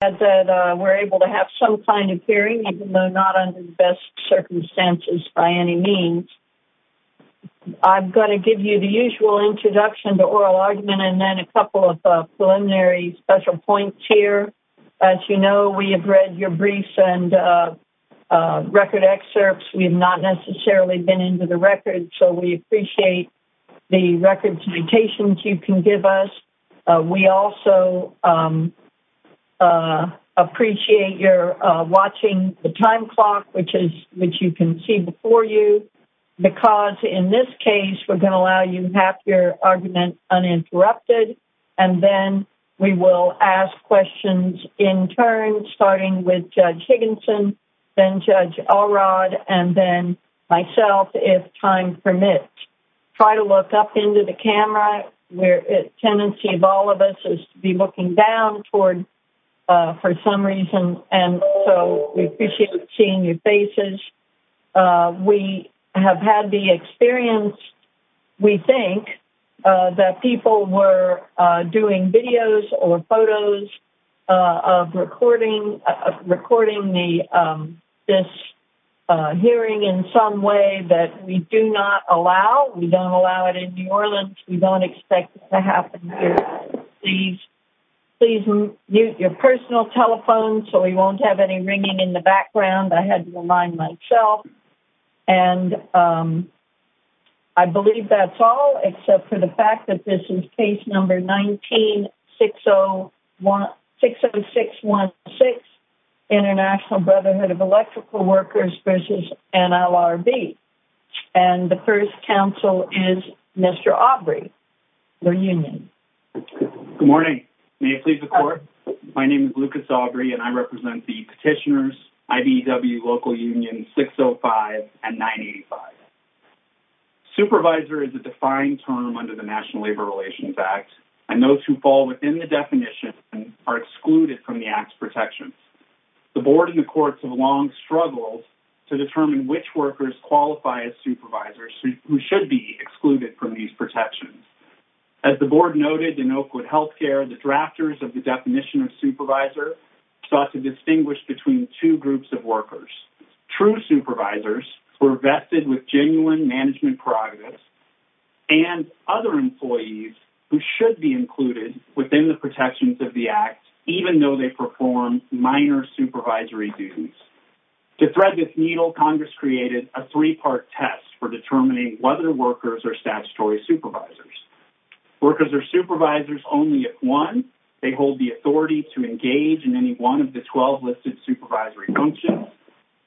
that we're able to have some kind of hearing even though not under the best circumstances by any means. I'm going to give you the usual introduction to oral argument and then a couple of preliminary special points here. As you know we have read your briefs and record excerpts. We have not necessarily been into the record so we appreciate the record's mutations you can give us. We also appreciate you're watching the time clock which is which you can see before you because in this case we're going to allow you have your argument uninterrupted and then we will ask questions in turn starting with Judge Higginson then Judge Alrod and then myself if time permits. Try to look up into the camera where the tendency of all of us is to be looking down toward for some reason and so we appreciate seeing your faces. We have had the experience, we think, that people were doing videos or photos of recording this hearing in some way that we do not allow. We don't allow it in New Orleans. We don't expect it to happen here. Please mute your personal telephone so we won't have any ringing in the background. I had to remind myself and I believe that's all except for the fact that this is case number 19-60616 International Brotherhood of Electrical Workers versus NLRB and the first counsel is Mr. Aubrey, your union. Good morning. May it please the court. My name is Lucas Aubrey and I represent the petitioners, IBEW, local unions 605 and 985. Supervisor is a defined term under the National Labor Relations Act and those who fall within the definition are excluded from the act's protections. The board and the courts have long struggled to determine which workers qualify as supervisors who should be excluded from these protections. As the board noted in Oakwood Healthcare, the drafters of the definition of supervisor sought to distinguish between two groups of workers. True supervisors were vested with genuine management prerogatives and other employees who should be included within the protections of the act even though they perform minor supervisory duties. To thread this needle, Congress created a three-part test for determining whether workers are statutory supervisors. Workers are supervisors only if one, they hold the authority to engage in any one of the 12 listed supervisory functions.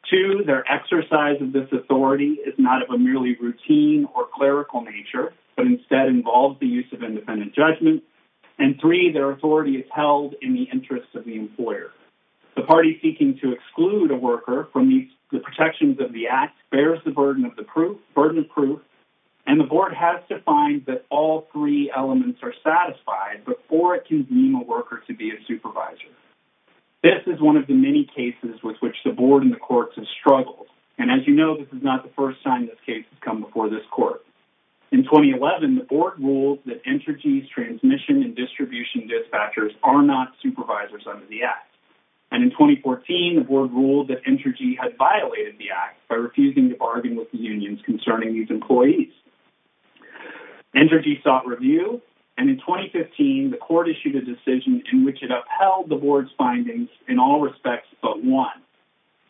Two, their exercise of this authority is not of a merely routine or clerical nature but instead involves the use of independent judgment. And three, their authority is held in the interest of the employer. The party seeking to exclude a worker from the protections of the act bears the burden of proof and the board has to find that all three elements are satisfied before it can deem a worker to be a supervisor. This is one of the many cases with which the board and the courts have struggled and as you know this is not the first time this case has come before this court. In 2011, the board ruled that Entergy's transmission and distribution dispatchers are not supervisors under the act. And in 2014, the board ruled that Entergy had violated the act by refusing to bargain with the unions concerning these employees. Entergy sought review and in 2015, the court issued a decision in which it upheld the board's findings in all respects but one.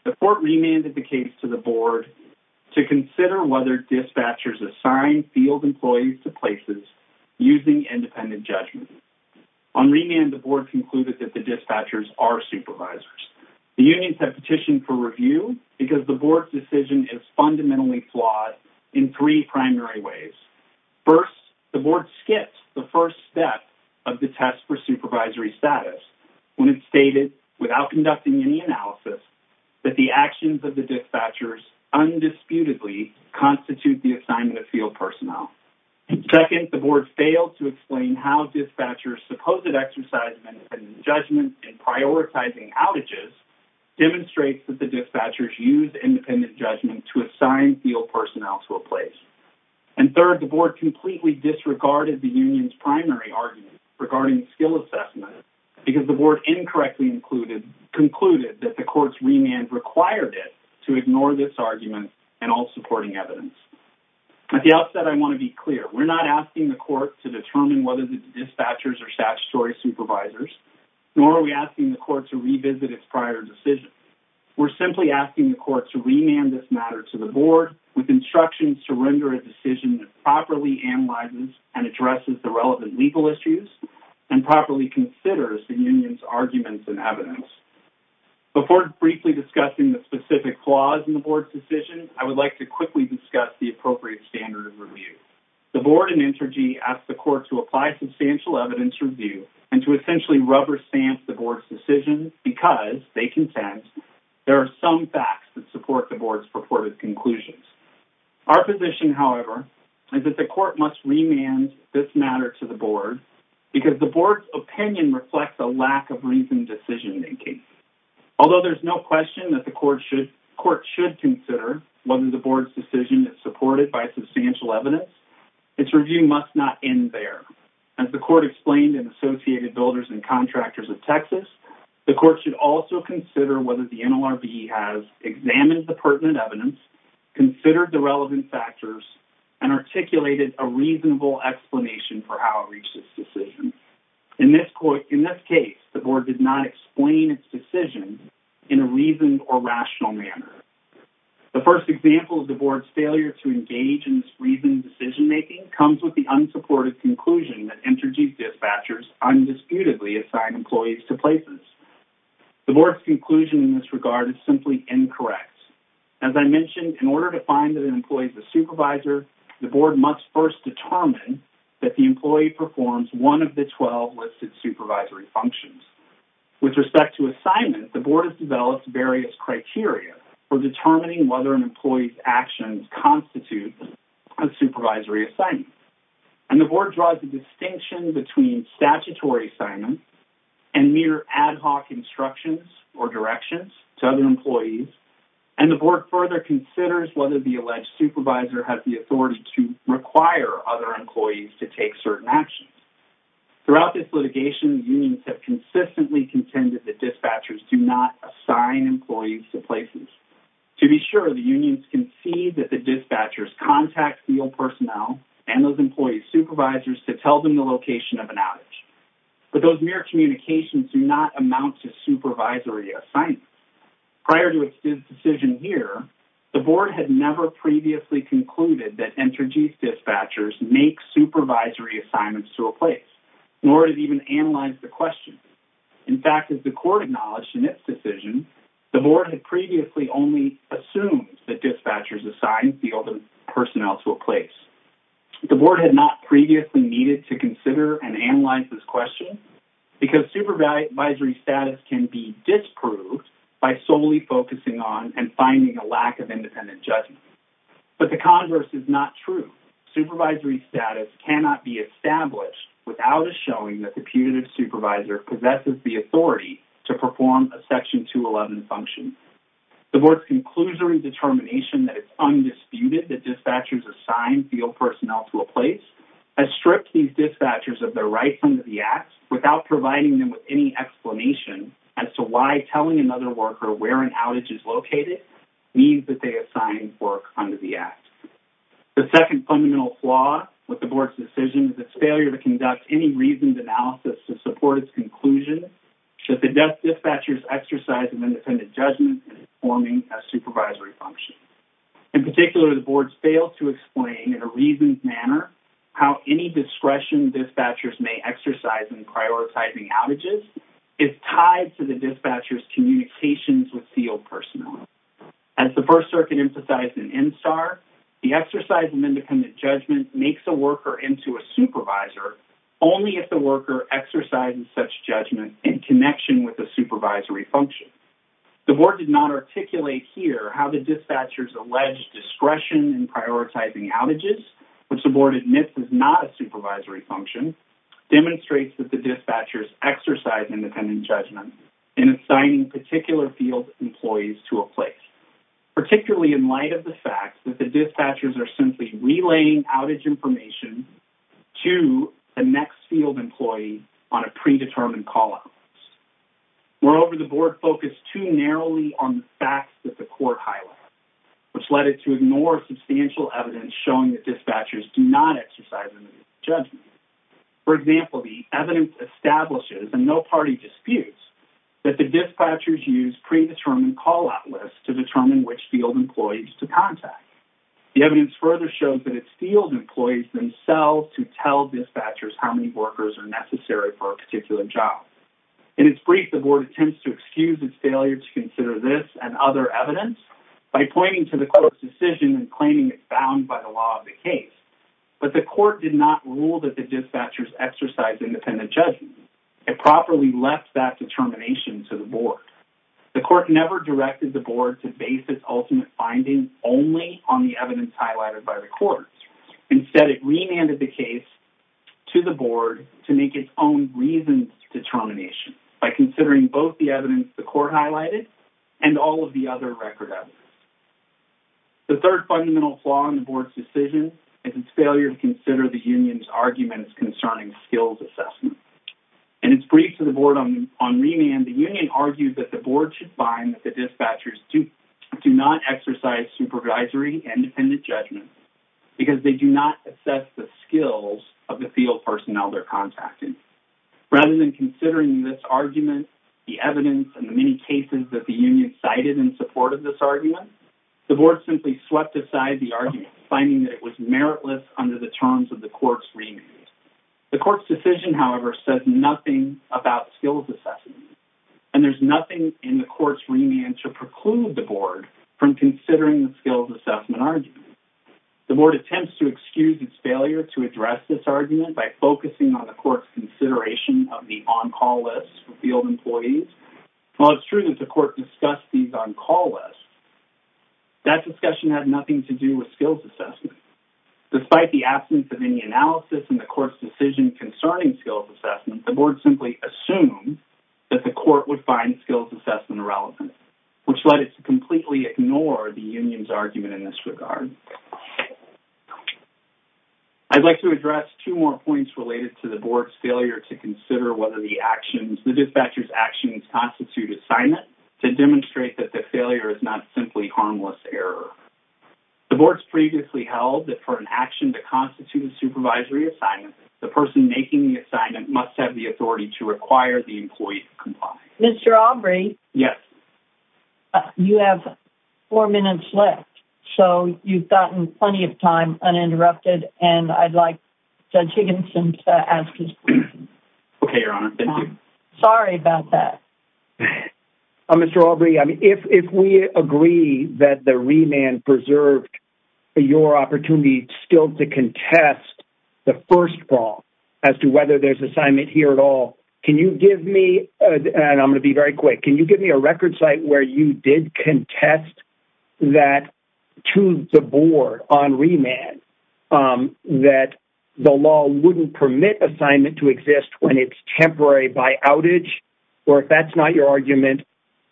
The court remanded the case to the board to consider whether dispatchers assign field employees to places using independent judgment. On remand, the board concluded that the dispatchers are supervisors. The unions have petitioned for review because the board's decision is fundamentally flawed in three primary ways. First, the board skips the first step of the test for supervisory status when it stated, without conducting any analysis, that the actions of the dispatchers undisputedly constitute the assignment of field personnel. Second, the board failed to explain how dispatchers' supposed exercise of independent judgment in prioritizing outages demonstrates that the dispatchers use field personnel to a place. And third, the board completely disregarded the union's primary argument regarding the skill assessment because the board incorrectly concluded that the court's remand required it to ignore this argument and all supporting evidence. At the outset, I want to be clear. We're not asking the court to determine whether the dispatchers are statutory supervisors nor are we asking the court to revisit its prior decision. We're simply asking the court to remand this matter to the board with instructions to render a decision that properly analyzes and addresses the relevant legal issues and properly considers the union's arguments and evidence. Before briefly discussing the specific flaws in the board's decision, I would like to quickly discuss the appropriate standard of review. The board and Intergy asked the court to apply substantial evidence review and to are some facts that support the board's purported conclusions. Our position, however, is that the court must remand this matter to the board because the board's opinion reflects a lack of reasoned decision-making. Although there's no question that the court should consider whether the board's decision is supported by substantial evidence, its review must not end there. As the court explained in Associated Builders and Contractors of Texas, the NLRB has examined the pertinent evidence, considered the relevant factors, and articulated a reasonable explanation for how it reached this decision. In this case, the board did not explain its decision in a reasoned or rational manner. The first example of the board's failure to engage in this reasoned decision-making comes with the unsupported conclusion that Intergy's dispatchers undisputedly assign employees to places. The board's conclusion in this regard is simply incorrect. As I mentioned, in order to find that an employee is a supervisor, the board must first determine that the employee performs one of the 12 listed supervisory functions. With respect to assignment, the board has developed various criteria for determining whether an employee's actions constitute a supervisory assignment, and the board draws a distinction between statutory assignments and mere ad hoc instructions or directions to other employees, and the board further considers whether the alleged supervisor has the authority to require other employees to take certain actions. Throughout this litigation, unions have consistently contended that dispatchers do not assign employees to places. To be sure, the unions concede that the dispatchers contact field personnel and those employee supervisors to tell them the location of an outage, but those mere communications do not amount to supervisory assignments. Prior to its decision here, the board had never previously concluded that Intergy's dispatchers make supervisory assignments to a place, nor did it even analyze the question. In fact, as the court acknowledged in its decision, the board had previously only assumed that dispatchers assigned field personnel to a place. The board had not previously needed to consider and analyze this question because supervisory status can be disproved by solely focusing on and finding a lack of independent judgment. But the converse is not true. Supervisory status cannot be established without a showing that the putative supervisor possesses the authority to perform a Section 211 function. The board's conclusionary determination that it's these dispatchers of their rights under the Act without providing them with any explanation as to why telling another worker where an outage is located means that they assign work under the Act. The second fundamental flaw with the board's decision is its failure to conduct any reasoned analysis to support its conclusion that the dispatchers exercise of independent judgment in performing a supervisory function. In particular, the board's failed to manner how any discretion dispatchers may exercise in prioritizing outages is tied to the dispatchers communications with field personnel. As the First Circuit emphasized in MSAR, the exercise of independent judgment makes a worker into a supervisor only if the worker exercises such judgment in connection with the supervisory function. The board did not articulate here how the board admits is not a supervisory function, demonstrates that the dispatchers exercise independent judgment in assigning particular field employees to a place, particularly in light of the fact that the dispatchers are simply relaying outage information to the next field employee on a predetermined call-out. Moreover, the board focused too narrowly on the facts that the court highlighted, which led it to ignore substantial evidence showing that the dispatchers do not exercise independent judgment. For example, the evidence establishes, and no party disputes, that the dispatchers use predetermined call-out lists to determine which field employees to contact. The evidence further shows that it's field employees themselves who tell dispatchers how many workers are necessary for a particular job. In its brief, the board attempts to excuse its failure to consider this and other evidence by pointing to the court's decision and claiming it's bound by the law of the case, but the court did not rule that the dispatchers exercise independent judgment. It properly left that determination to the board. The court never directed the board to base its ultimate findings only on the evidence highlighted by the courts. Instead, it remanded the case to the board to make its own reasons determination by considering both the evidence the court highlighted and all of the other record evidence. The third fundamental flaw in the board's decision is its failure to consider the union's arguments concerning skills assessment. In its brief to the board on remand, the union argued that the board should find that the dispatchers do not exercise supervisory independent judgment because they do not assess the skills of the field personnel they're contacting. Rather than considering this argument, the evidence, and the many cases that the union cited in support of this side the argument, finding that it was meritless under the terms of the court's remand. The court's decision, however, says nothing about skills assessment and there's nothing in the court's remand to preclude the board from considering the skills assessment argument. The board attempts to excuse its failure to address this argument by focusing on the court's consideration of the on-call lists for field employees. While it's true that the court discussed these on-call lists, that discussion had nothing to do with skills assessment. Despite the absence of any analysis in the court's decision concerning skills assessment, the board simply assumed that the court would find skills assessment irrelevant, which led it to completely ignore the union's argument in this regard. I'd like to address two more points related to the board's failure to consider whether the actions, the dispatchers actions constitute assignment to demonstrate that the failure is not simply harmless error. The board's previously held that for an action to constitute a supervisory assignment, the person making the assignment must have the authority to require the employee to comply. Mr. Aubry? Yes. You have four minutes left, so you've gotten plenty of time uninterrupted and I'd like Judge Higginson to ask his question. Okay, Your Honor. Thank you. Sorry about that. Mr. Aubry, if we agree that the remand preserved your opportunity still to contest the first brawl as to whether there's assignment here at all, can you give me, and I'm gonna be very quick, can you give me a record site where you did contest that to the board on remand that the law wouldn't permit assignment to your argument,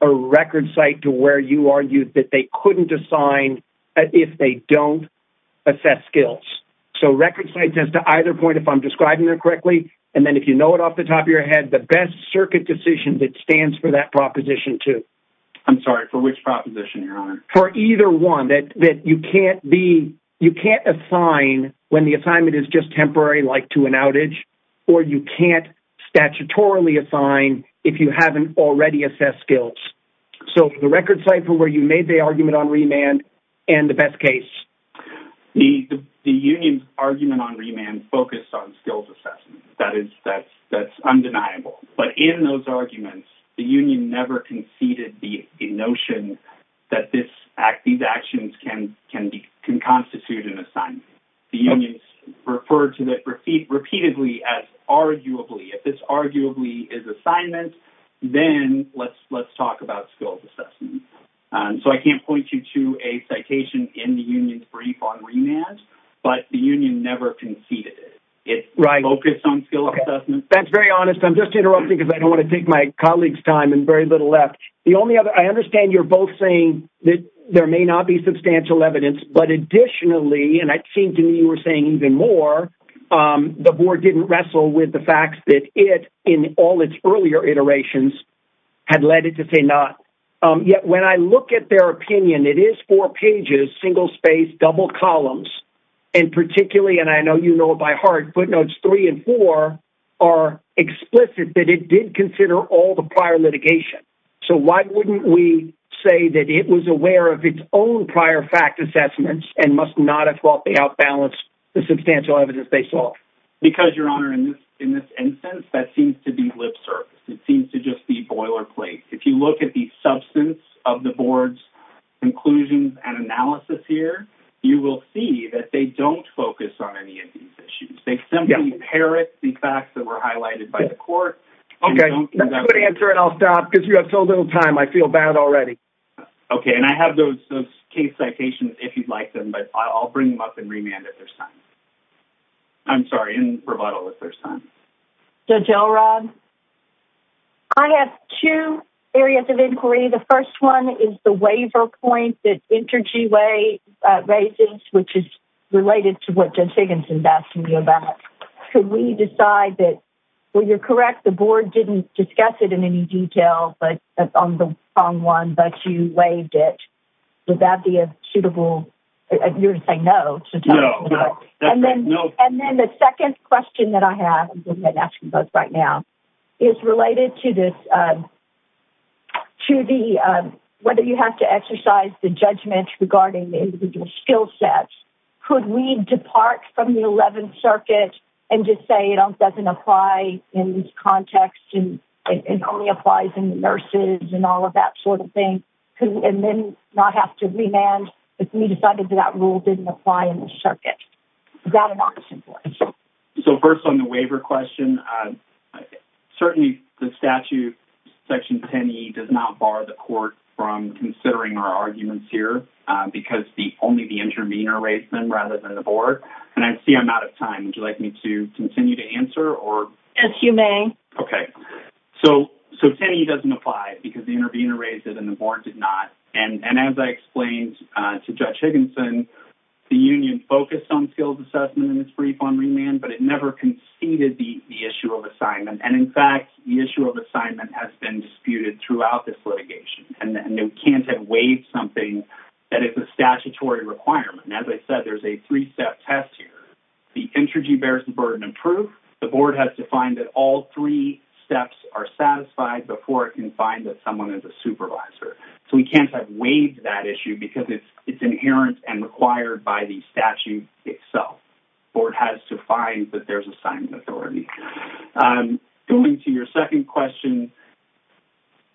a record site to where you argued that they couldn't assign if they don't assess skills. So record sites as to either point, if I'm describing them correctly, and then if you know it off the top of your head, the best circuit decision that stands for that proposition too. I'm sorry, for which proposition, Your Honor? For either one, that you can't be, you can't assign when the assignment is just temporary, like to an outage, or you can't statutorily assign if you haven't already assessed skills. So the record site for where you made the argument on remand, and the best case. The union's argument on remand focused on skills assessment. That is, that's undeniable. But in those arguments, the union never conceded the notion that this act, these actions can can be, can constitute an assignment. The union's referred to that repeatedly as arguably. If it's arguably is assignment, then let's let's talk about skills assessment. So I can't point you to a citation in the union's brief on remand, but the union never conceded it. Right. It's focused on skill assessment. That's very honest. I'm just interrupting because I don't want to take my colleague's time and very little left. The only other, I understand you're both saying that there may not be substantial evidence, but additionally, and I think you were saying even more, the board didn't wrestle with the fact that it, in all its earlier iterations, had led it to say not. Yet when I look at their opinion, it is four pages, single space, double columns, and particularly, and I know you know it by heart, footnotes three and four are explicit that it did consider all the prior litigation. So why wouldn't we say that it was aware of its own the substantial evidence they saw? Because your honor, in this instance, that seems to be lip service. It seems to just be boilerplate. If you look at the substance of the board's conclusions and analysis here, you will see that they don't focus on any of these issues. They simply parrot the facts that were highlighted by the court. Okay, that's a good answer and I'll stop because you have so little time. I feel bad already. Okay, and I have those case citations if you'd like them, but I'll bring them up in remand if there's time. I'm sorry, in rebuttal if there's time. Judge Elrod, I have two areas of inquiry. The first one is the waiver point that Intergy Way raises, which is related to what Judge Higginson asked me about. Could we decide that, well you're correct, the board didn't discuss it in any detail, but on the wrong one, but you waived it. Would that be a reasonable, you're saying no. And then the second question that I have, I'm asking both right now, is related to this, to the, whether you have to exercise the judgment regarding the individual skill sets. Could we depart from the Eleventh Circuit and just say it doesn't apply in this context and it only applies in nurses and all of that sort of thing, and then not have to remand if we decided that that rule didn't apply in the circuit. Is that an option for us? So first on the waiver question, certainly the statute, Section 10e, does not bar the court from considering our arguments here because only the intervener raised them rather than the board, and I see I'm out of time. Would you like me to continue to answer or? As 10e doesn't apply because the intervener raised it and the board did not, and as I explained to Judge Higginson, the union focused on skills assessment in this brief on remand, but it never conceded the issue of assignment, and in fact, the issue of assignment has been disputed throughout this litigation, and we can't have waived something that is a statutory requirement. As I said, there's a three-step test here. The intrigy bears the burden of proof. The board has to find that all three steps are satisfied before it can find that someone is a supervisor, so we can't have waived that issue because it's inherent and required by the statute itself. The board has to find that there's assignment authority. Going to your second question,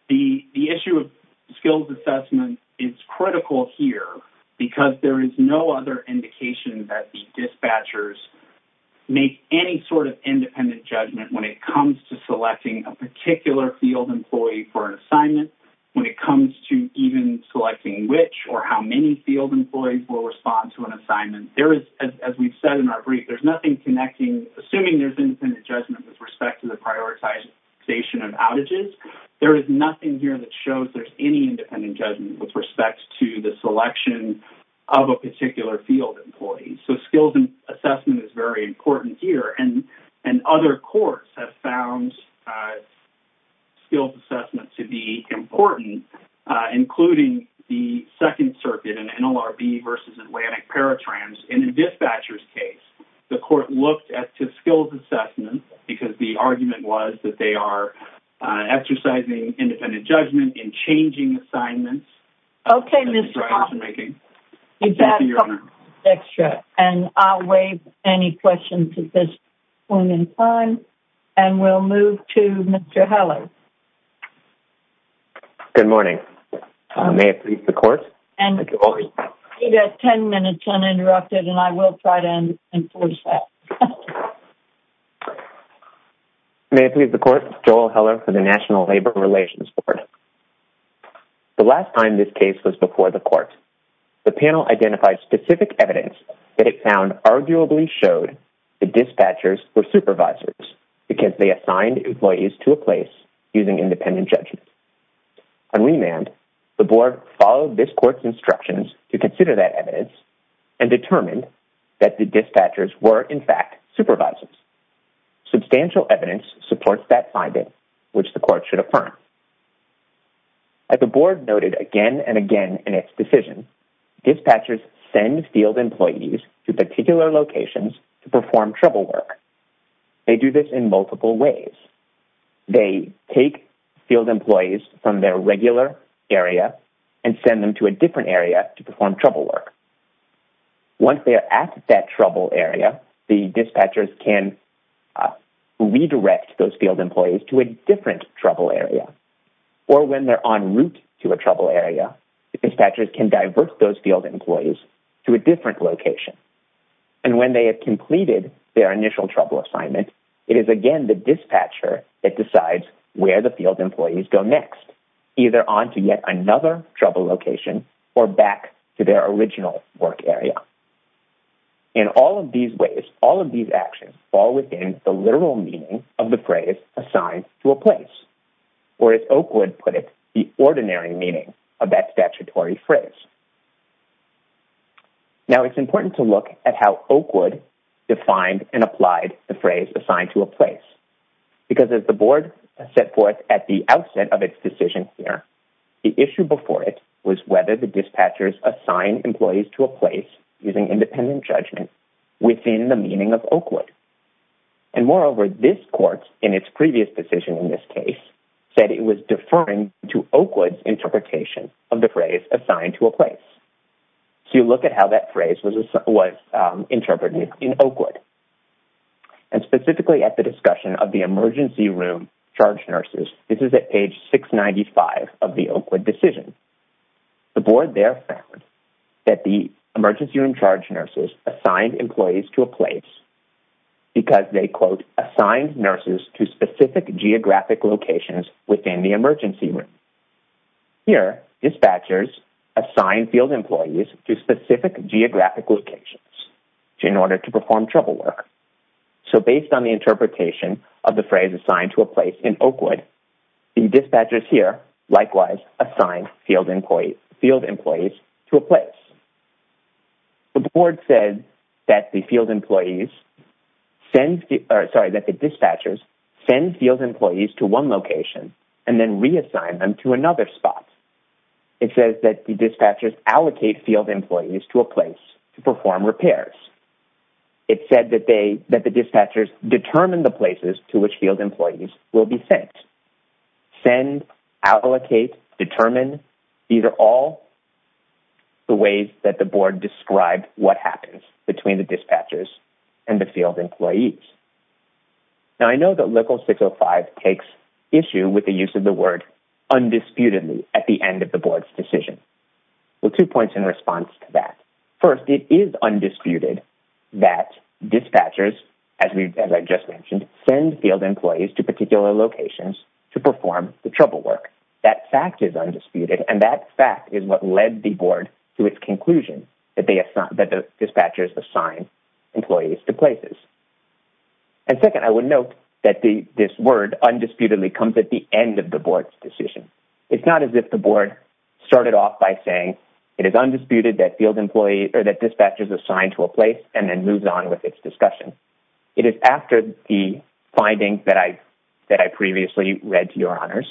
the issue of skills assessment is critical here because there is no other indication that the dispatchers make any sort of independent judgment when it comes to selecting a particular field employee for an assignment, when it comes to even selecting which or how many field employees will respond to an assignment. There is, as we've said in our brief, there's nothing connecting assuming there's independent judgment with respect to the prioritization of outages. There is nothing here that shows there's any independent judgment with respect to the selection of a particular field employee, so skills assessment is very important here. Other courts have found skills assessment to be important, including the Second Circuit in NLRB versus Atlantic Paratrans. In a dispatcher's case, the court looked at the skills assessment because the argument was that they are exercising independent judgment in Okay, Mr. Hoffman. You've got a couple minutes extra, and I'll waive any questions at this point in time, and we'll move to Mr. Heller. Good morning. May it please the court. You've got ten minutes uninterrupted, and I will try to enforce that. May it please the court, Joel Heller for the National Labor Relations Board. The last time this case was before the court, the panel identified specific evidence that it found arguably showed the dispatchers were supervisors because they assigned employees to a place using independent judgment. On remand, the board followed this court's instructions to consider that evidence and determined that the dispatchers were, in fact, supervisors. Substantial evidence supports that again and again in its decision, dispatchers send field employees to particular locations to perform trouble work. They do this in multiple ways. They take field employees from their regular area and send them to a different area to perform trouble work. Once they are at that trouble area, the dispatchers can redirect those field employees to a different trouble area, or when they're en route to a trouble area, the dispatchers can divert those field employees to a different location, and when they have completed their initial trouble assignment, it is again the dispatcher that decides where the field employees go next, either on to yet another trouble location or back to their original work area. In all of these ways, all of these actions fall within the literal meaning of the phrase assigned to a place, or as Oakwood put it, the ordinary meaning of that statutory phrase. Now it's important to look at how Oakwood defined and applied the phrase assigned to a place, because as the board set forth at the outset of its decision here, the issue before it was whether the dispatchers assigned employees to a place using independent judgment within the meaning of Oakwood. And moreover, this court, in its previous decision in this case, said it was deferring to Oakwood's interpretation of the phrase assigned to a place. So you look at how that phrase was interpreted in Oakwood, and specifically at the discussion of the emergency room charge nurses. This is at page 695 of the Oakwood decision. The board there found that the emergency room charge nurses assigned employees to a place because they, quote, assigned nurses to specific geographic locations within the emergency room. Here, dispatchers assigned field employees to specific geographic locations in order to perform trouble work. So based on the interpretation of the phrase assigned to a place in Oakwood, the dispatchers here likewise assigned field employees to a place. The board said that the field employees, sorry, that the dispatchers send field employees to one location and then reassign them to another spot. It says that the dispatchers allocate field employees to a place to perform repairs. It said that the dispatchers determine the places to which field employees will be sent. Send, allocate, determine. These are all the ways that the board described what happens between the dispatchers and the field employees. Now, I know that Local 605 takes issue with the use of the word undisputedly at the end of the board's decision. Well, two points in response to that. First, it is undisputed that dispatchers, as I just mentioned, send field employees to particular locations to perform the task. That fact is undisputed and that fact is what led the board to its conclusion that the dispatchers assign employees to places. And second, I would note that this word undisputedly comes at the end of the board's decision. It's not as if the board started off by saying it is undisputed that field employees or that dispatchers assigned to a place and then moves on with its discussion. It is after the finding that I previously read, to your honors,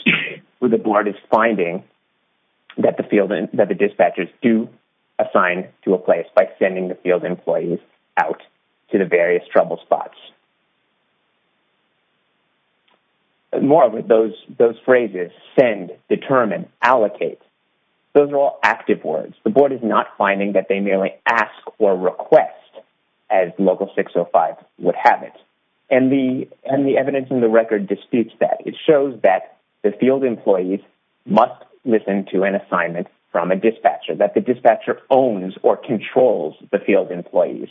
where the board is finding that the dispatchers do assign to a place by sending the field employees out to the various trouble spots. More of those phrases, send, determine, allocate, those are all active words. The board is not finding that they merely ask or request, as Local 605 would have it. And the evidence in the record disputes that. It shows that the field employees must listen to an assignment from a dispatcher, that the dispatcher owns or controls the field employees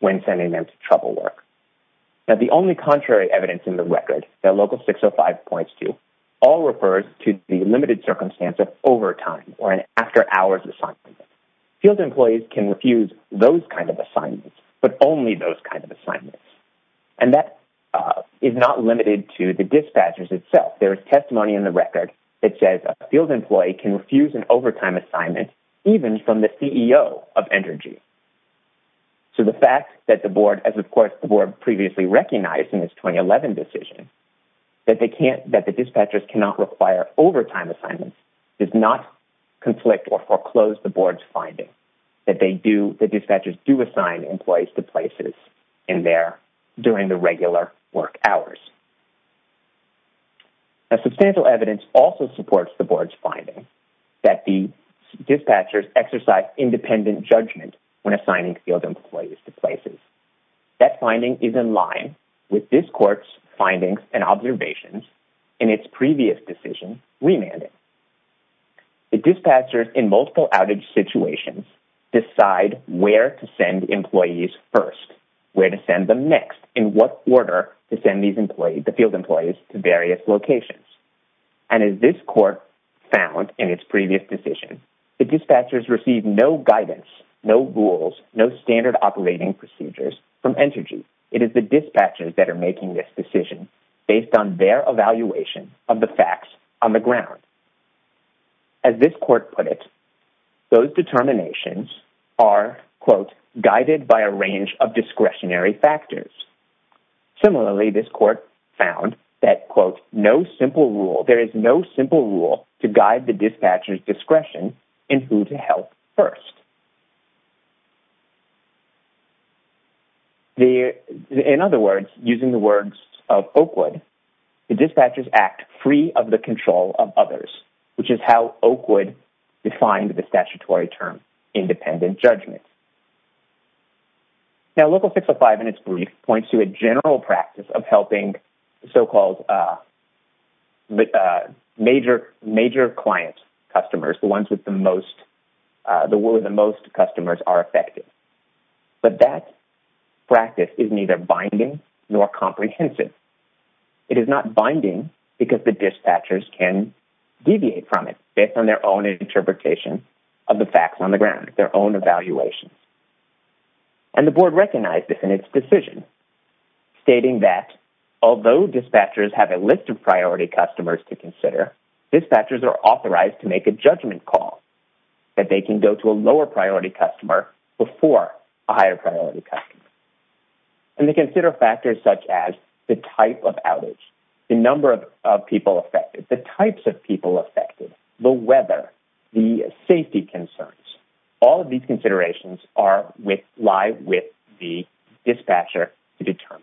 when sending them to trouble work. But the only contrary evidence in the record that Local 605 points to all refers to the limited circumstance of overtime or an after-hours assignment. Field employees can refuse those kind of assignments, but only those kind of assignments. And that is not limited to the dispatchers itself. There is testimony in the record that says a field employee can refuse an overtime assignment even from the CEO of Energy. So the fact that the board, as of course the board previously recognized in its 2011 decision, that they can't, that the dispatchers cannot require overtime assignments, does not conflict or foreclose the board's finding that they do, the dispatchers do assign employees to places in there during the regular work hours. A substantial evidence also supports the board's finding that the dispatchers exercise independent judgment when assigning field employees to places. That finding is in line with this court's findings and observations in its previous decision remanded. The first, where to send them next, in what order to send these employees, the field employees, to various locations. And as this court found in its previous decision, the dispatchers received no guidance, no rules, no standard operating procedures from Energy. It is the dispatchers that are making this decision based on their evaluation of the facts on the ground. As this court put it, those determinations are, quote, guided by a range of discretionary factors. Similarly, this court found that, quote, no simple rule, there is no simple rule to guide the dispatchers discretion in who to help first. In other words, using the words of Oakwood, the dispatchers act free of the control of defying the statutory term, independent judgment. Now Local 605 in its brief points to a general practice of helping so-called major client customers, the ones with the most, the one with the most customers are affected. But that practice is neither binding nor comprehensive. It is not binding because the dispatchers can deviate from it based on their own interpretation of the facts on the ground, their own evaluations. And the board recognized this in its decision, stating that although dispatchers have a list of priority customers to consider, dispatchers are authorized to make a judgment call that they can go to a lower priority customer before a higher priority customer. And they types of people affected, the weather, the safety concerns, all of these considerations lie with the dispatcher to determine.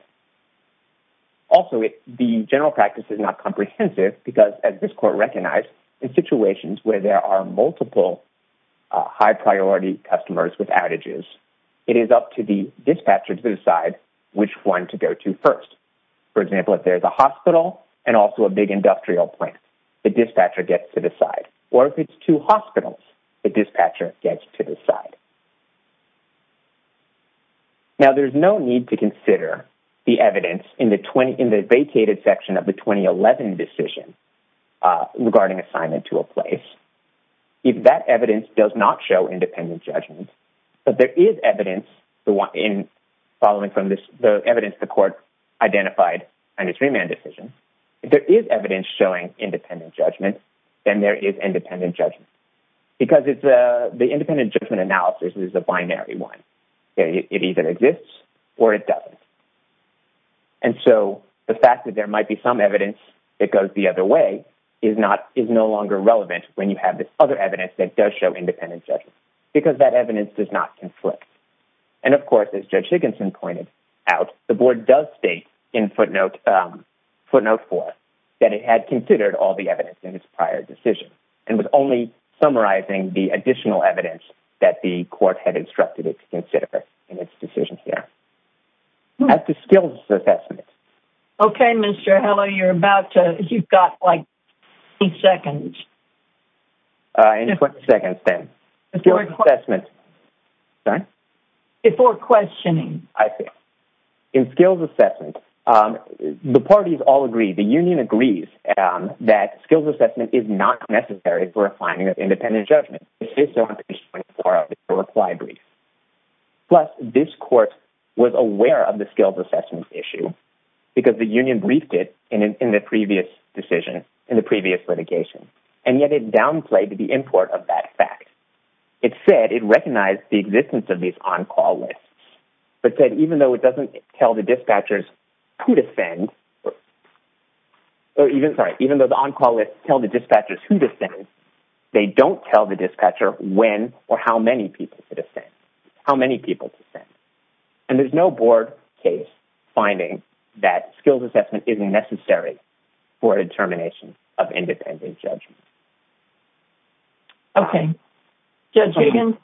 Also, the general practice is not comprehensive because, as this court recognized, in situations where there are multiple high priority customers with outages, it is up to the dispatcher to decide which one to go to first. For example, if there's a hospital and also a big industrial plant, the dispatcher gets to decide. Or if it's two hospitals, the dispatcher gets to decide. Now, there's no need to consider the evidence in the vacated section of the 2011 decision regarding assignment to a place if that evidence does not show independent judgment. But there is evidence, following from the evidence the court identified in the three-man decision, if there is evidence showing independent judgment, then there is independent judgment. Because the independent judgment analysis is a binary one. It either exists or it doesn't. And so the fact that there might be some evidence that goes the other way is no longer relevant when you have this other evidence that does show independent judgment. Because that evidence does not conflict. And of course, as Judge in footnote 4, that it had considered all the evidence in its prior decision. And was only summarizing the additional evidence that the court had instructed it to consider in its decision here. At the skills assessment. Okay, Mr. Heller, you've got like 20 seconds. 20 seconds then. Before questioning. In skills assessment, the parties all agree, the union agrees, that skills assessment is not necessary for a finding of independent judgment. It is sufficient for a reply brief. Plus, this court was aware of the skills assessment issue because the union briefed it in the previous decision, in the previous litigation. And yet it downplayed the import of that fact. It recognized the existence of these on-call lists, but said even though it doesn't tell the dispatchers who to send, or even, sorry, even though the on-call lists tell the dispatchers who to send, they don't tell the dispatcher when or how many people to send. How many people to send. And there's no board case finding that skills assessment isn't necessary for determination of independent judgment. Okay, Judge Higgins.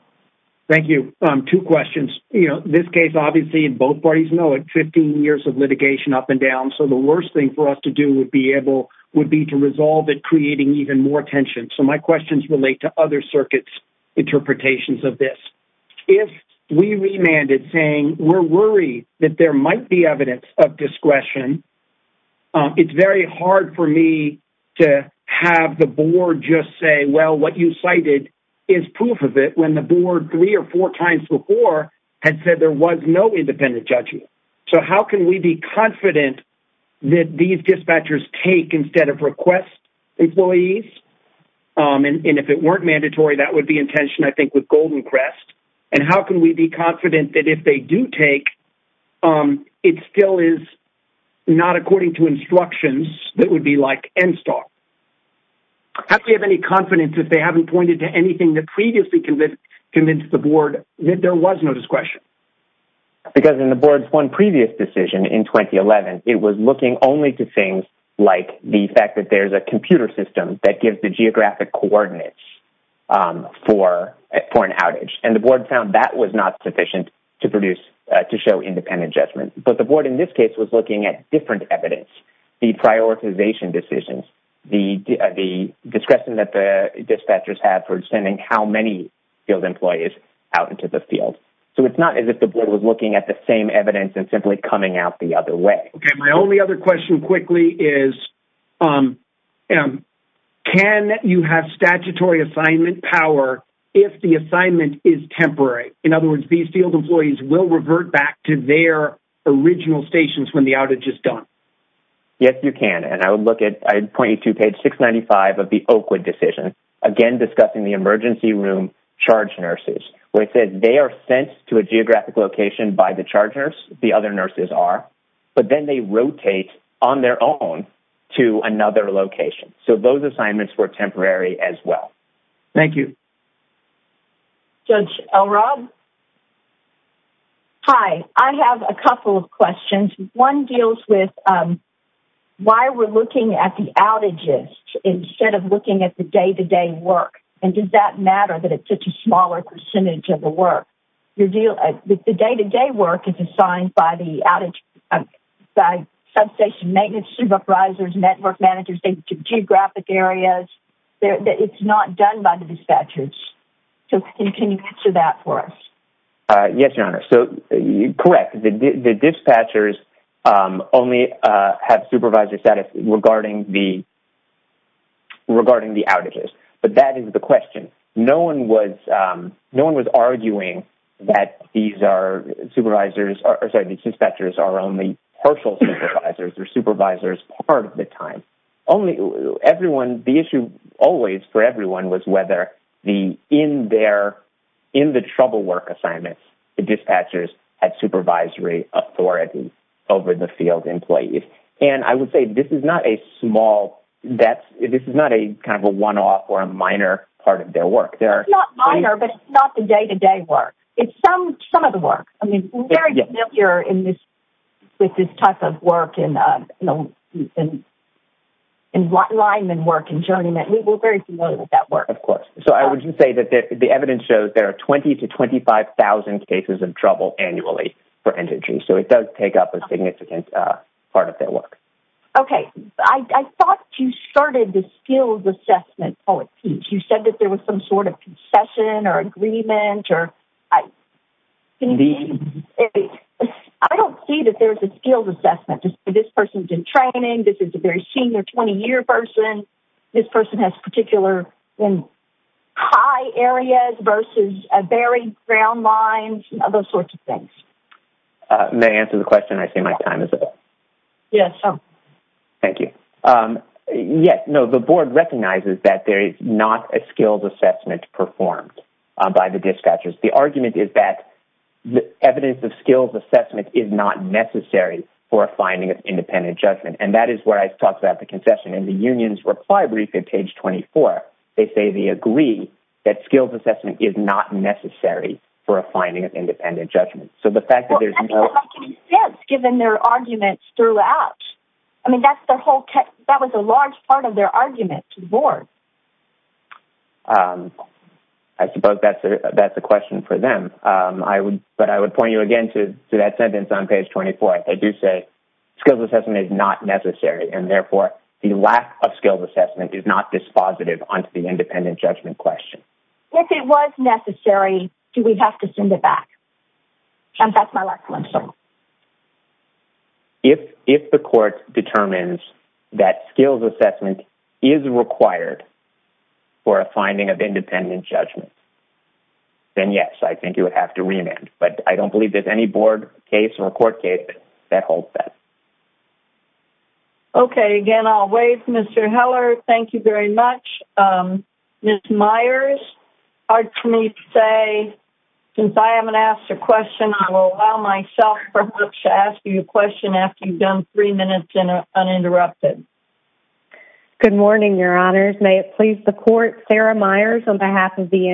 Thank you. Two questions. You know, this case obviously, both parties know it, 15 years of litigation up and down. So the worst thing for us to do would be able, would be to resolve it creating even more tension. So my questions relate to other circuits interpretations of this. If we remanded saying we're worried that there be, to have the board just say, well, what you cited is proof of it. When the board three or four times before had said there was no independent judgment. So how can we be confident that these dispatchers take instead of request employees? And if it weren't mandatory, that would be intention, I think, with Golden Crest. And how can we be confident that if they do take, it still is not according to instructions that would be like end stock. How can we have any confidence if they haven't pointed to anything that previously convinced the board that there was no discretion? Because in the board's one previous decision in 2011, it was looking only to things like the fact that there's a computer system that gives the geographic coordinates for an outage. And the board found that was not sufficient to produce, to show independent judgment. But the board in this case was looking at different evidence. The prioritization decisions, the discretion that the dispatchers had for sending how many field employees out into the field. So it's not as if the board was looking at the same evidence and simply coming out the other way. Okay, my only other question quickly is, can you have statutory assignment power if the assignment is temporary? In other words, these field employees will Yes, you can. And I would look at, I'd point you to page 695 of the Oakwood decision, again discussing the emergency room charge nurses. Where it says they are sent to a geographic location by the charge nurse, the other nurses are. But then they rotate on their own to another location. So those assignments were temporary as well. Thank you. Judge Elrod? Hi, I have a couple of questions. One deals with why we're looking at the outages instead of looking at the day-to-day work. And does that matter that it's such a smaller percentage of the work? The day-to-day work is assigned by the outage, by substation maintenance supervisors, network managers, geographic areas. It's not done by the dispatchers. So can you answer that for us? Yes, Your Honor. So, correct. The dispatchers only have supervisor status regarding the outages. But that is the question. No one was arguing that these are supervisors, or sorry, the dispatchers are only partial supervisors. They're supervisors part of the time. Only everyone, the issue always for everyone was whether, in the trouble work assignments, the dispatchers had supervisory authority over the field employees. And I would say this is not a small, this is not a kind of a one-off or a minor part of their work. It's not minor, but it's not the day-to-day work. It's some of the work. I mean, we're very familiar with this type of work and lineman work and journeyman. We're very familiar with that work. Of course. So I would say that the evidence shows there are 20 to 25,000 cases of trouble annually for energy. So it does take up a significant part of their work. Okay. I thought you started the skills assessment, Poet-Pete. You said that there was some sort of concession or agreement. I don't see that there's a skills assessment. This person's in training. This is a very senior 20-year person. This person has particular high areas versus a very ground lines, those sorts of things. May I answer the question? I see my time is up. Yes. Thank you. Yes. No, the board recognizes that there is not a skills assessment performed by the dispatchers. The argument is that the evidence of skills assessment is not necessary for a finding of independent judgment. And that is where I talked about the concession. In the union's reply brief at page 24, they say they agree that skills assessment is not necessary for a finding of independent judgment. So the fact that there's no... Well, that doesn't make any sense, given their arguments throughout. I mean, that's their whole text. That was a large part of their argument to the board. I suppose that's a question for them. But I would point you again to that page 24. They do say skills assessment is not necessary, and therefore the lack of skills assessment is not dispositive onto the independent judgment question. If it was necessary, do we have to send it back? And that's my last question. If the court determines that skills assessment is required for a finding of independent judgment, then yes, I think you would have to remand. But I don't think that holds that. Okay, again, I'll waive. Mr. Heller, thank you very much. Ms. Myers, it's hard for me to say. Since I haven't asked a question, I will allow myself perhaps to ask you a question after you've done three minutes uninterrupted. Good morning, Your Honors. May it please the court, Sarah Myers on behalf of the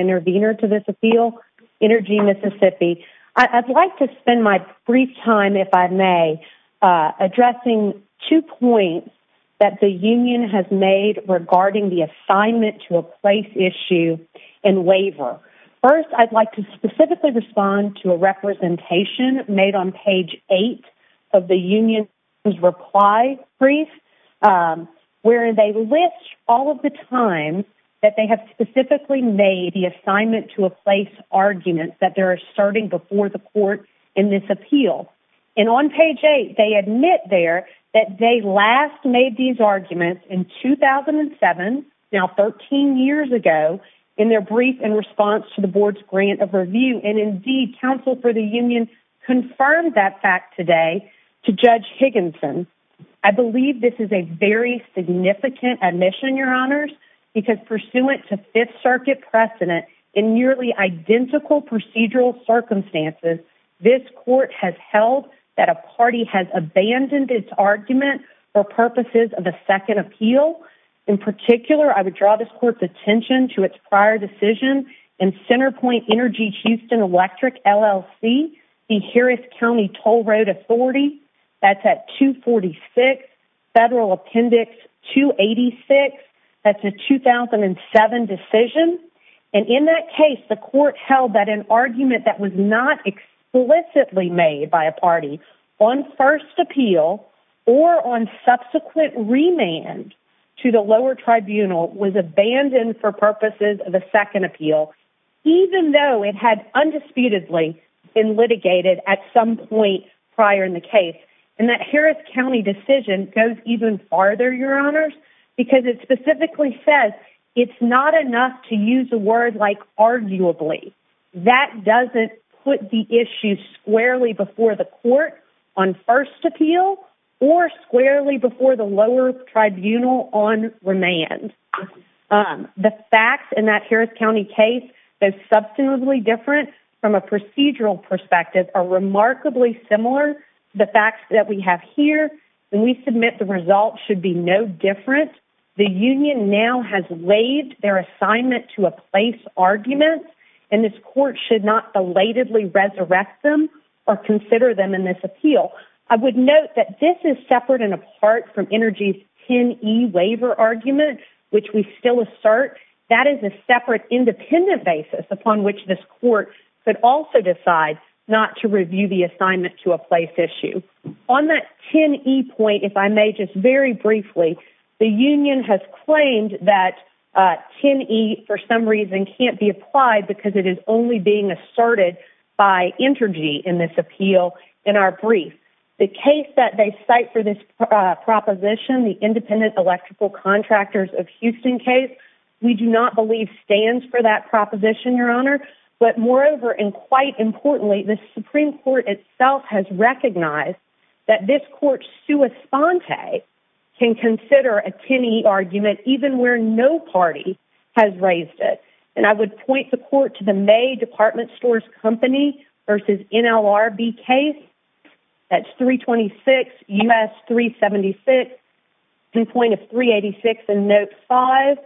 if I may, addressing two points that the union has made regarding the assignment to a place issue and waiver. First, I'd like to specifically respond to a representation made on page 8 of the union's reply brief, where they list all of the times that they have specifically made the assignment to a appeal. And on page 8, they admit there that they last made these arguments in 2007, now 13 years ago, in their brief in response to the board's grant of review. And indeed, counsel for the union confirmed that fact today to Judge Higginson. I believe this is a very significant admission, Your Honors, because pursuant to Fifth Circuit precedent in nearly identical procedural circumstances, this court has held that a party has abandoned its argument for purposes of a second appeal. In particular, I would draw this court's attention to its prior decision in Centerpoint Energy-Houston Electric LLC, the Harris County Toll Road Authority. That's at 246 Federal Appendix 286. That's a 2007 decision. And in that case, the court held that an argument that was not explicitly made by a party on first appeal or on subsequent remand to the lower tribunal was abandoned for purposes of a second appeal, even though it had undisputedly been litigated at some point prior in the case. And that specifically says it's not enough to use a word like arguably. That doesn't put the issue squarely before the court on first appeal or squarely before the lower tribunal on remand. The facts in that Harris County case, though substantively different from a procedural perspective, are remarkably similar. The facts that we have here, when we submit the results, should be no different. The union now has laid their assignment to a place argument, and this court should not belatedly resurrect them or consider them in this appeal. I would note that this is separate and apart from Energy's 10e waiver argument, which we still assert. That is a separate independent basis upon which this court could also decide not to review the assignment to a place issue. On that 10e point, if I may just very briefly, the union has claimed that 10e for some reason can't be applied because it is only being asserted by Energy in this appeal in our brief. The case that they cite for this proposition, the independent electrical contractors of Houston case, we do not believe stands for that proposition, your Moreover, and quite importantly, the Supreme Court itself has recognized that this court's sua sponte can consider a 10e argument even where no party has raised it. And I would point the court to the May Department Stores Company versus NLRB case. That's 326 U.S. 376, viewpoint of 386 and note 5.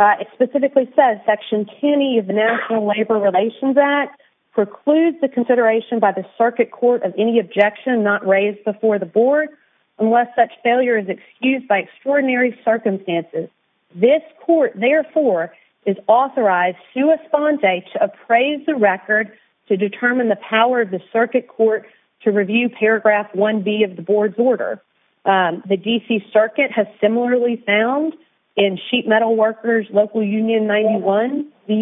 It specifically says Section 10e of the National Labor Relations Act precludes the consideration by the circuit court of any objection not raised before the board unless such failure is excused by extraordinary circumstances. This court therefore is authorized sua sponte to appraise the record to determine the power of the circuit court to review paragraph 1b of the board's order. The DC Circuit has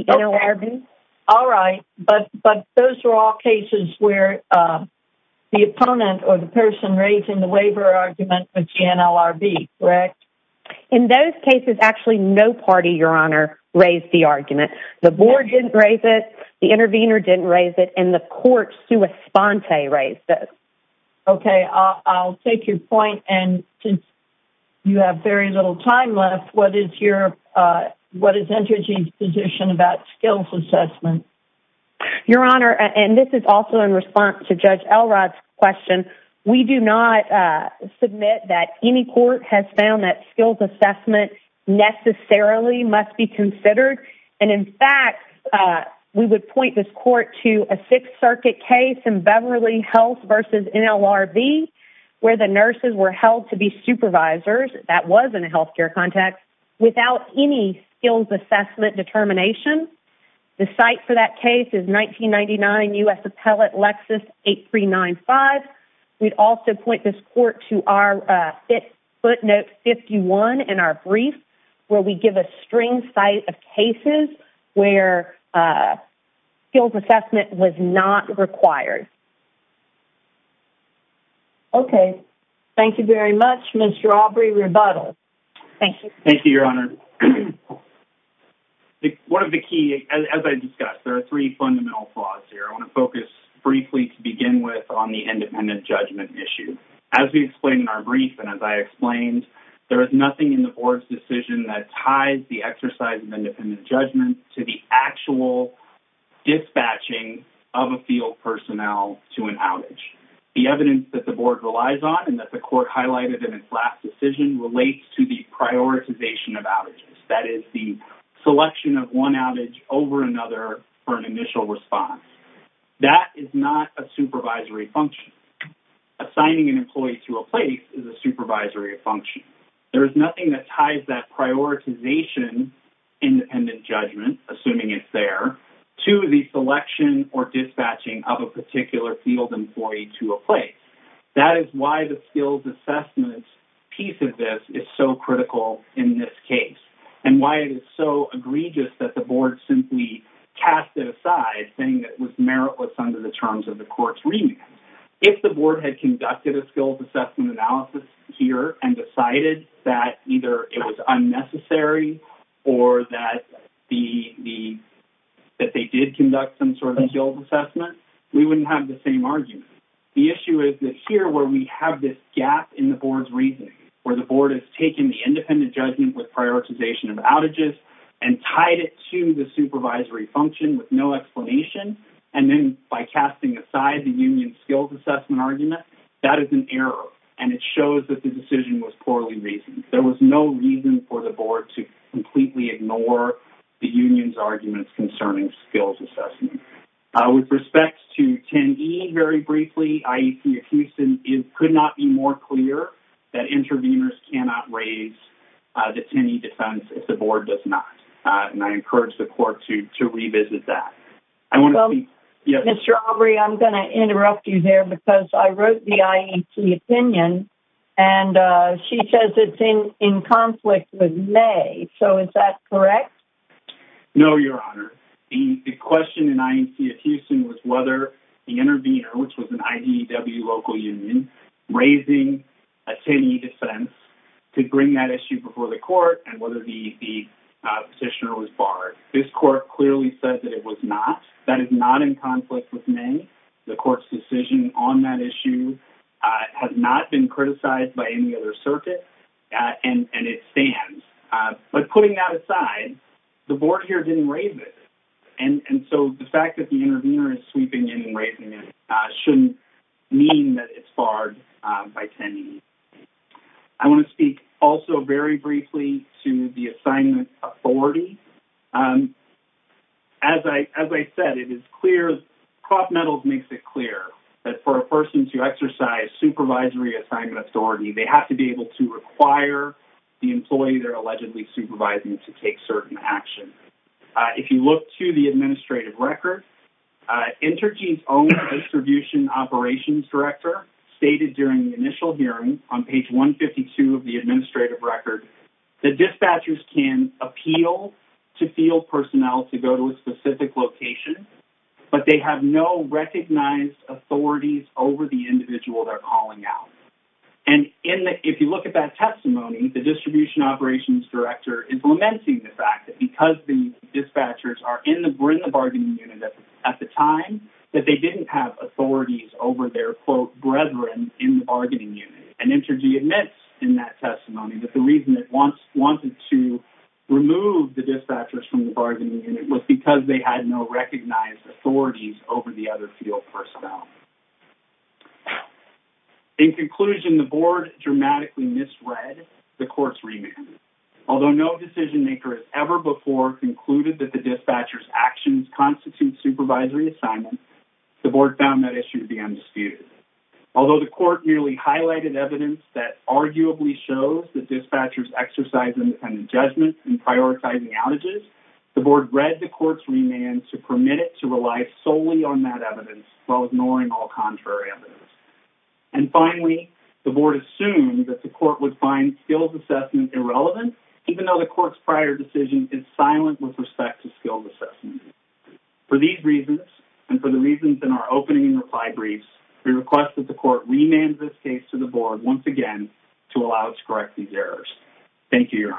NLRB. All right, but but those are all cases where the opponent or the person raising the waiver argument with the NLRB, correct? In those cases, actually no party, your honor, raised the argument. The board didn't raise it, the intervener didn't raise it, and the court sua sponte raised it. Okay, I'll take your point and since you have very little time left, what is your what is Energy's position about skills assessment? Your honor, and this is also in response to Judge Elrod's question, we do not submit that any court has found that skills assessment necessarily must be considered and in fact we would point this court to a Sixth Circuit case in Beverly Health versus NLRB where the nurses were held to be supervisors, that was in a health care context, without any skills assessment determination. The site for that case is 1999 U.S. Appellate Lexus 8395. We'd also point this court to our footnote 51 in our brief where we give a string site of cases where skills assessment was not required. Okay, thank you very much, Mr. Aubrey Rebuttal. Thank you. Thank you, your honor. One of the key, as I discussed, there are three fundamental flaws here. I want to focus briefly to begin with on the independent judgment issue. As we explained in our brief and as I explained, there is nothing in the board's decision that ties the exercise of independent judgment to the actual dispatching of a field personnel to an outage. The evidence that the board relies on and that the court highlighted in its last decision relates to the selection of one outage over another for an initial response. That is not a supervisory function. Assigning an employee to a place is a supervisory function. There is nothing that ties that prioritization independent judgment, assuming it's there, to the selection or dispatching of a particular field employee to a place. That is why the skills assessment piece of this is so egregious that the board simply cast it aside, saying that it was meritless under the terms of the court's remand. If the board had conducted a skills assessment analysis here and decided that either it was unnecessary or that they did conduct some sort of skills assessment, we wouldn't have the same argument. The issue is that here, where we have this gap in the board's reasoning, where the board has taken the independent judgment with prioritization of outages and tied it to the supervisory function with no explanation and then by casting aside the union skills assessment argument, that is an error and it shows that the decision was poorly reasoned. There was no reason for the board to completely ignore the union's arguments concerning skills assessment. With respect to 10E, very briefly, IEP Houston, it could not be more clear that interveners cannot raise the 10E defense if the board does not. I encourage the court to revisit that. Mr. Aubrey, I'm going to interrupt you there because I wrote the IEP opinion and she says it's in conflict with May, so is that correct? No, Your Honor. The question in IEP Houston was whether the intervener, which was an IDW local union, raising a 10E defense to bring that issue before the court and whether the petitioner was barred. This court clearly said that it was not. That is not in conflict with May. The court's decision on that issue has not been criticized by any other circuit and it stands, but putting that aside, the board here didn't raise it and so the fact that the intervener is sweeping in and raising it shouldn't mean that it's barred by 10E. I want to speak also very briefly to the assignment authority. As I said, it is clear, prop metals makes it clear, that for a person to exercise supervisory assignment authority, they have to be able to require the employee they're allegedly supervising to take certain actions. If you look to the Intergene's own distribution operations director stated during the initial hearing on page 152 of the administrative record, the dispatchers can appeal to field personnel to go to a specific location, but they have no recognized authorities over the individual they're calling out. And if you look at that testimony, the distribution operations director is lamenting the fact that because the dispatchers are in the bargaining unit at the time, that they didn't have authorities over their quote brethren in the bargaining unit. And Intergene admits in that testimony that the reason it once wanted to remove the dispatchers from the bargaining unit was because they had no recognized authorities over the other field personnel. In conclusion, the board dramatically misread the court's remand. Although no decision maker has ever before concluded that the dispatchers actions constitute supervisory assignment, the board found that issue to be undisputed. Although the court nearly highlighted evidence that arguably shows that dispatchers exercise independent judgment in prioritizing outages, the board read the court's remand to permit it to rely solely on that evidence while ignoring all contrary evidence. And finally, the board assumed that the court would find skills assessment irrelevant, even though the court's prior decision is silent with respect to skills assessment. For these reasons, and for the reasons in our opening and reply briefs, we request that the court remand this case to the board once again to allow us to correct these errors. Thank you, your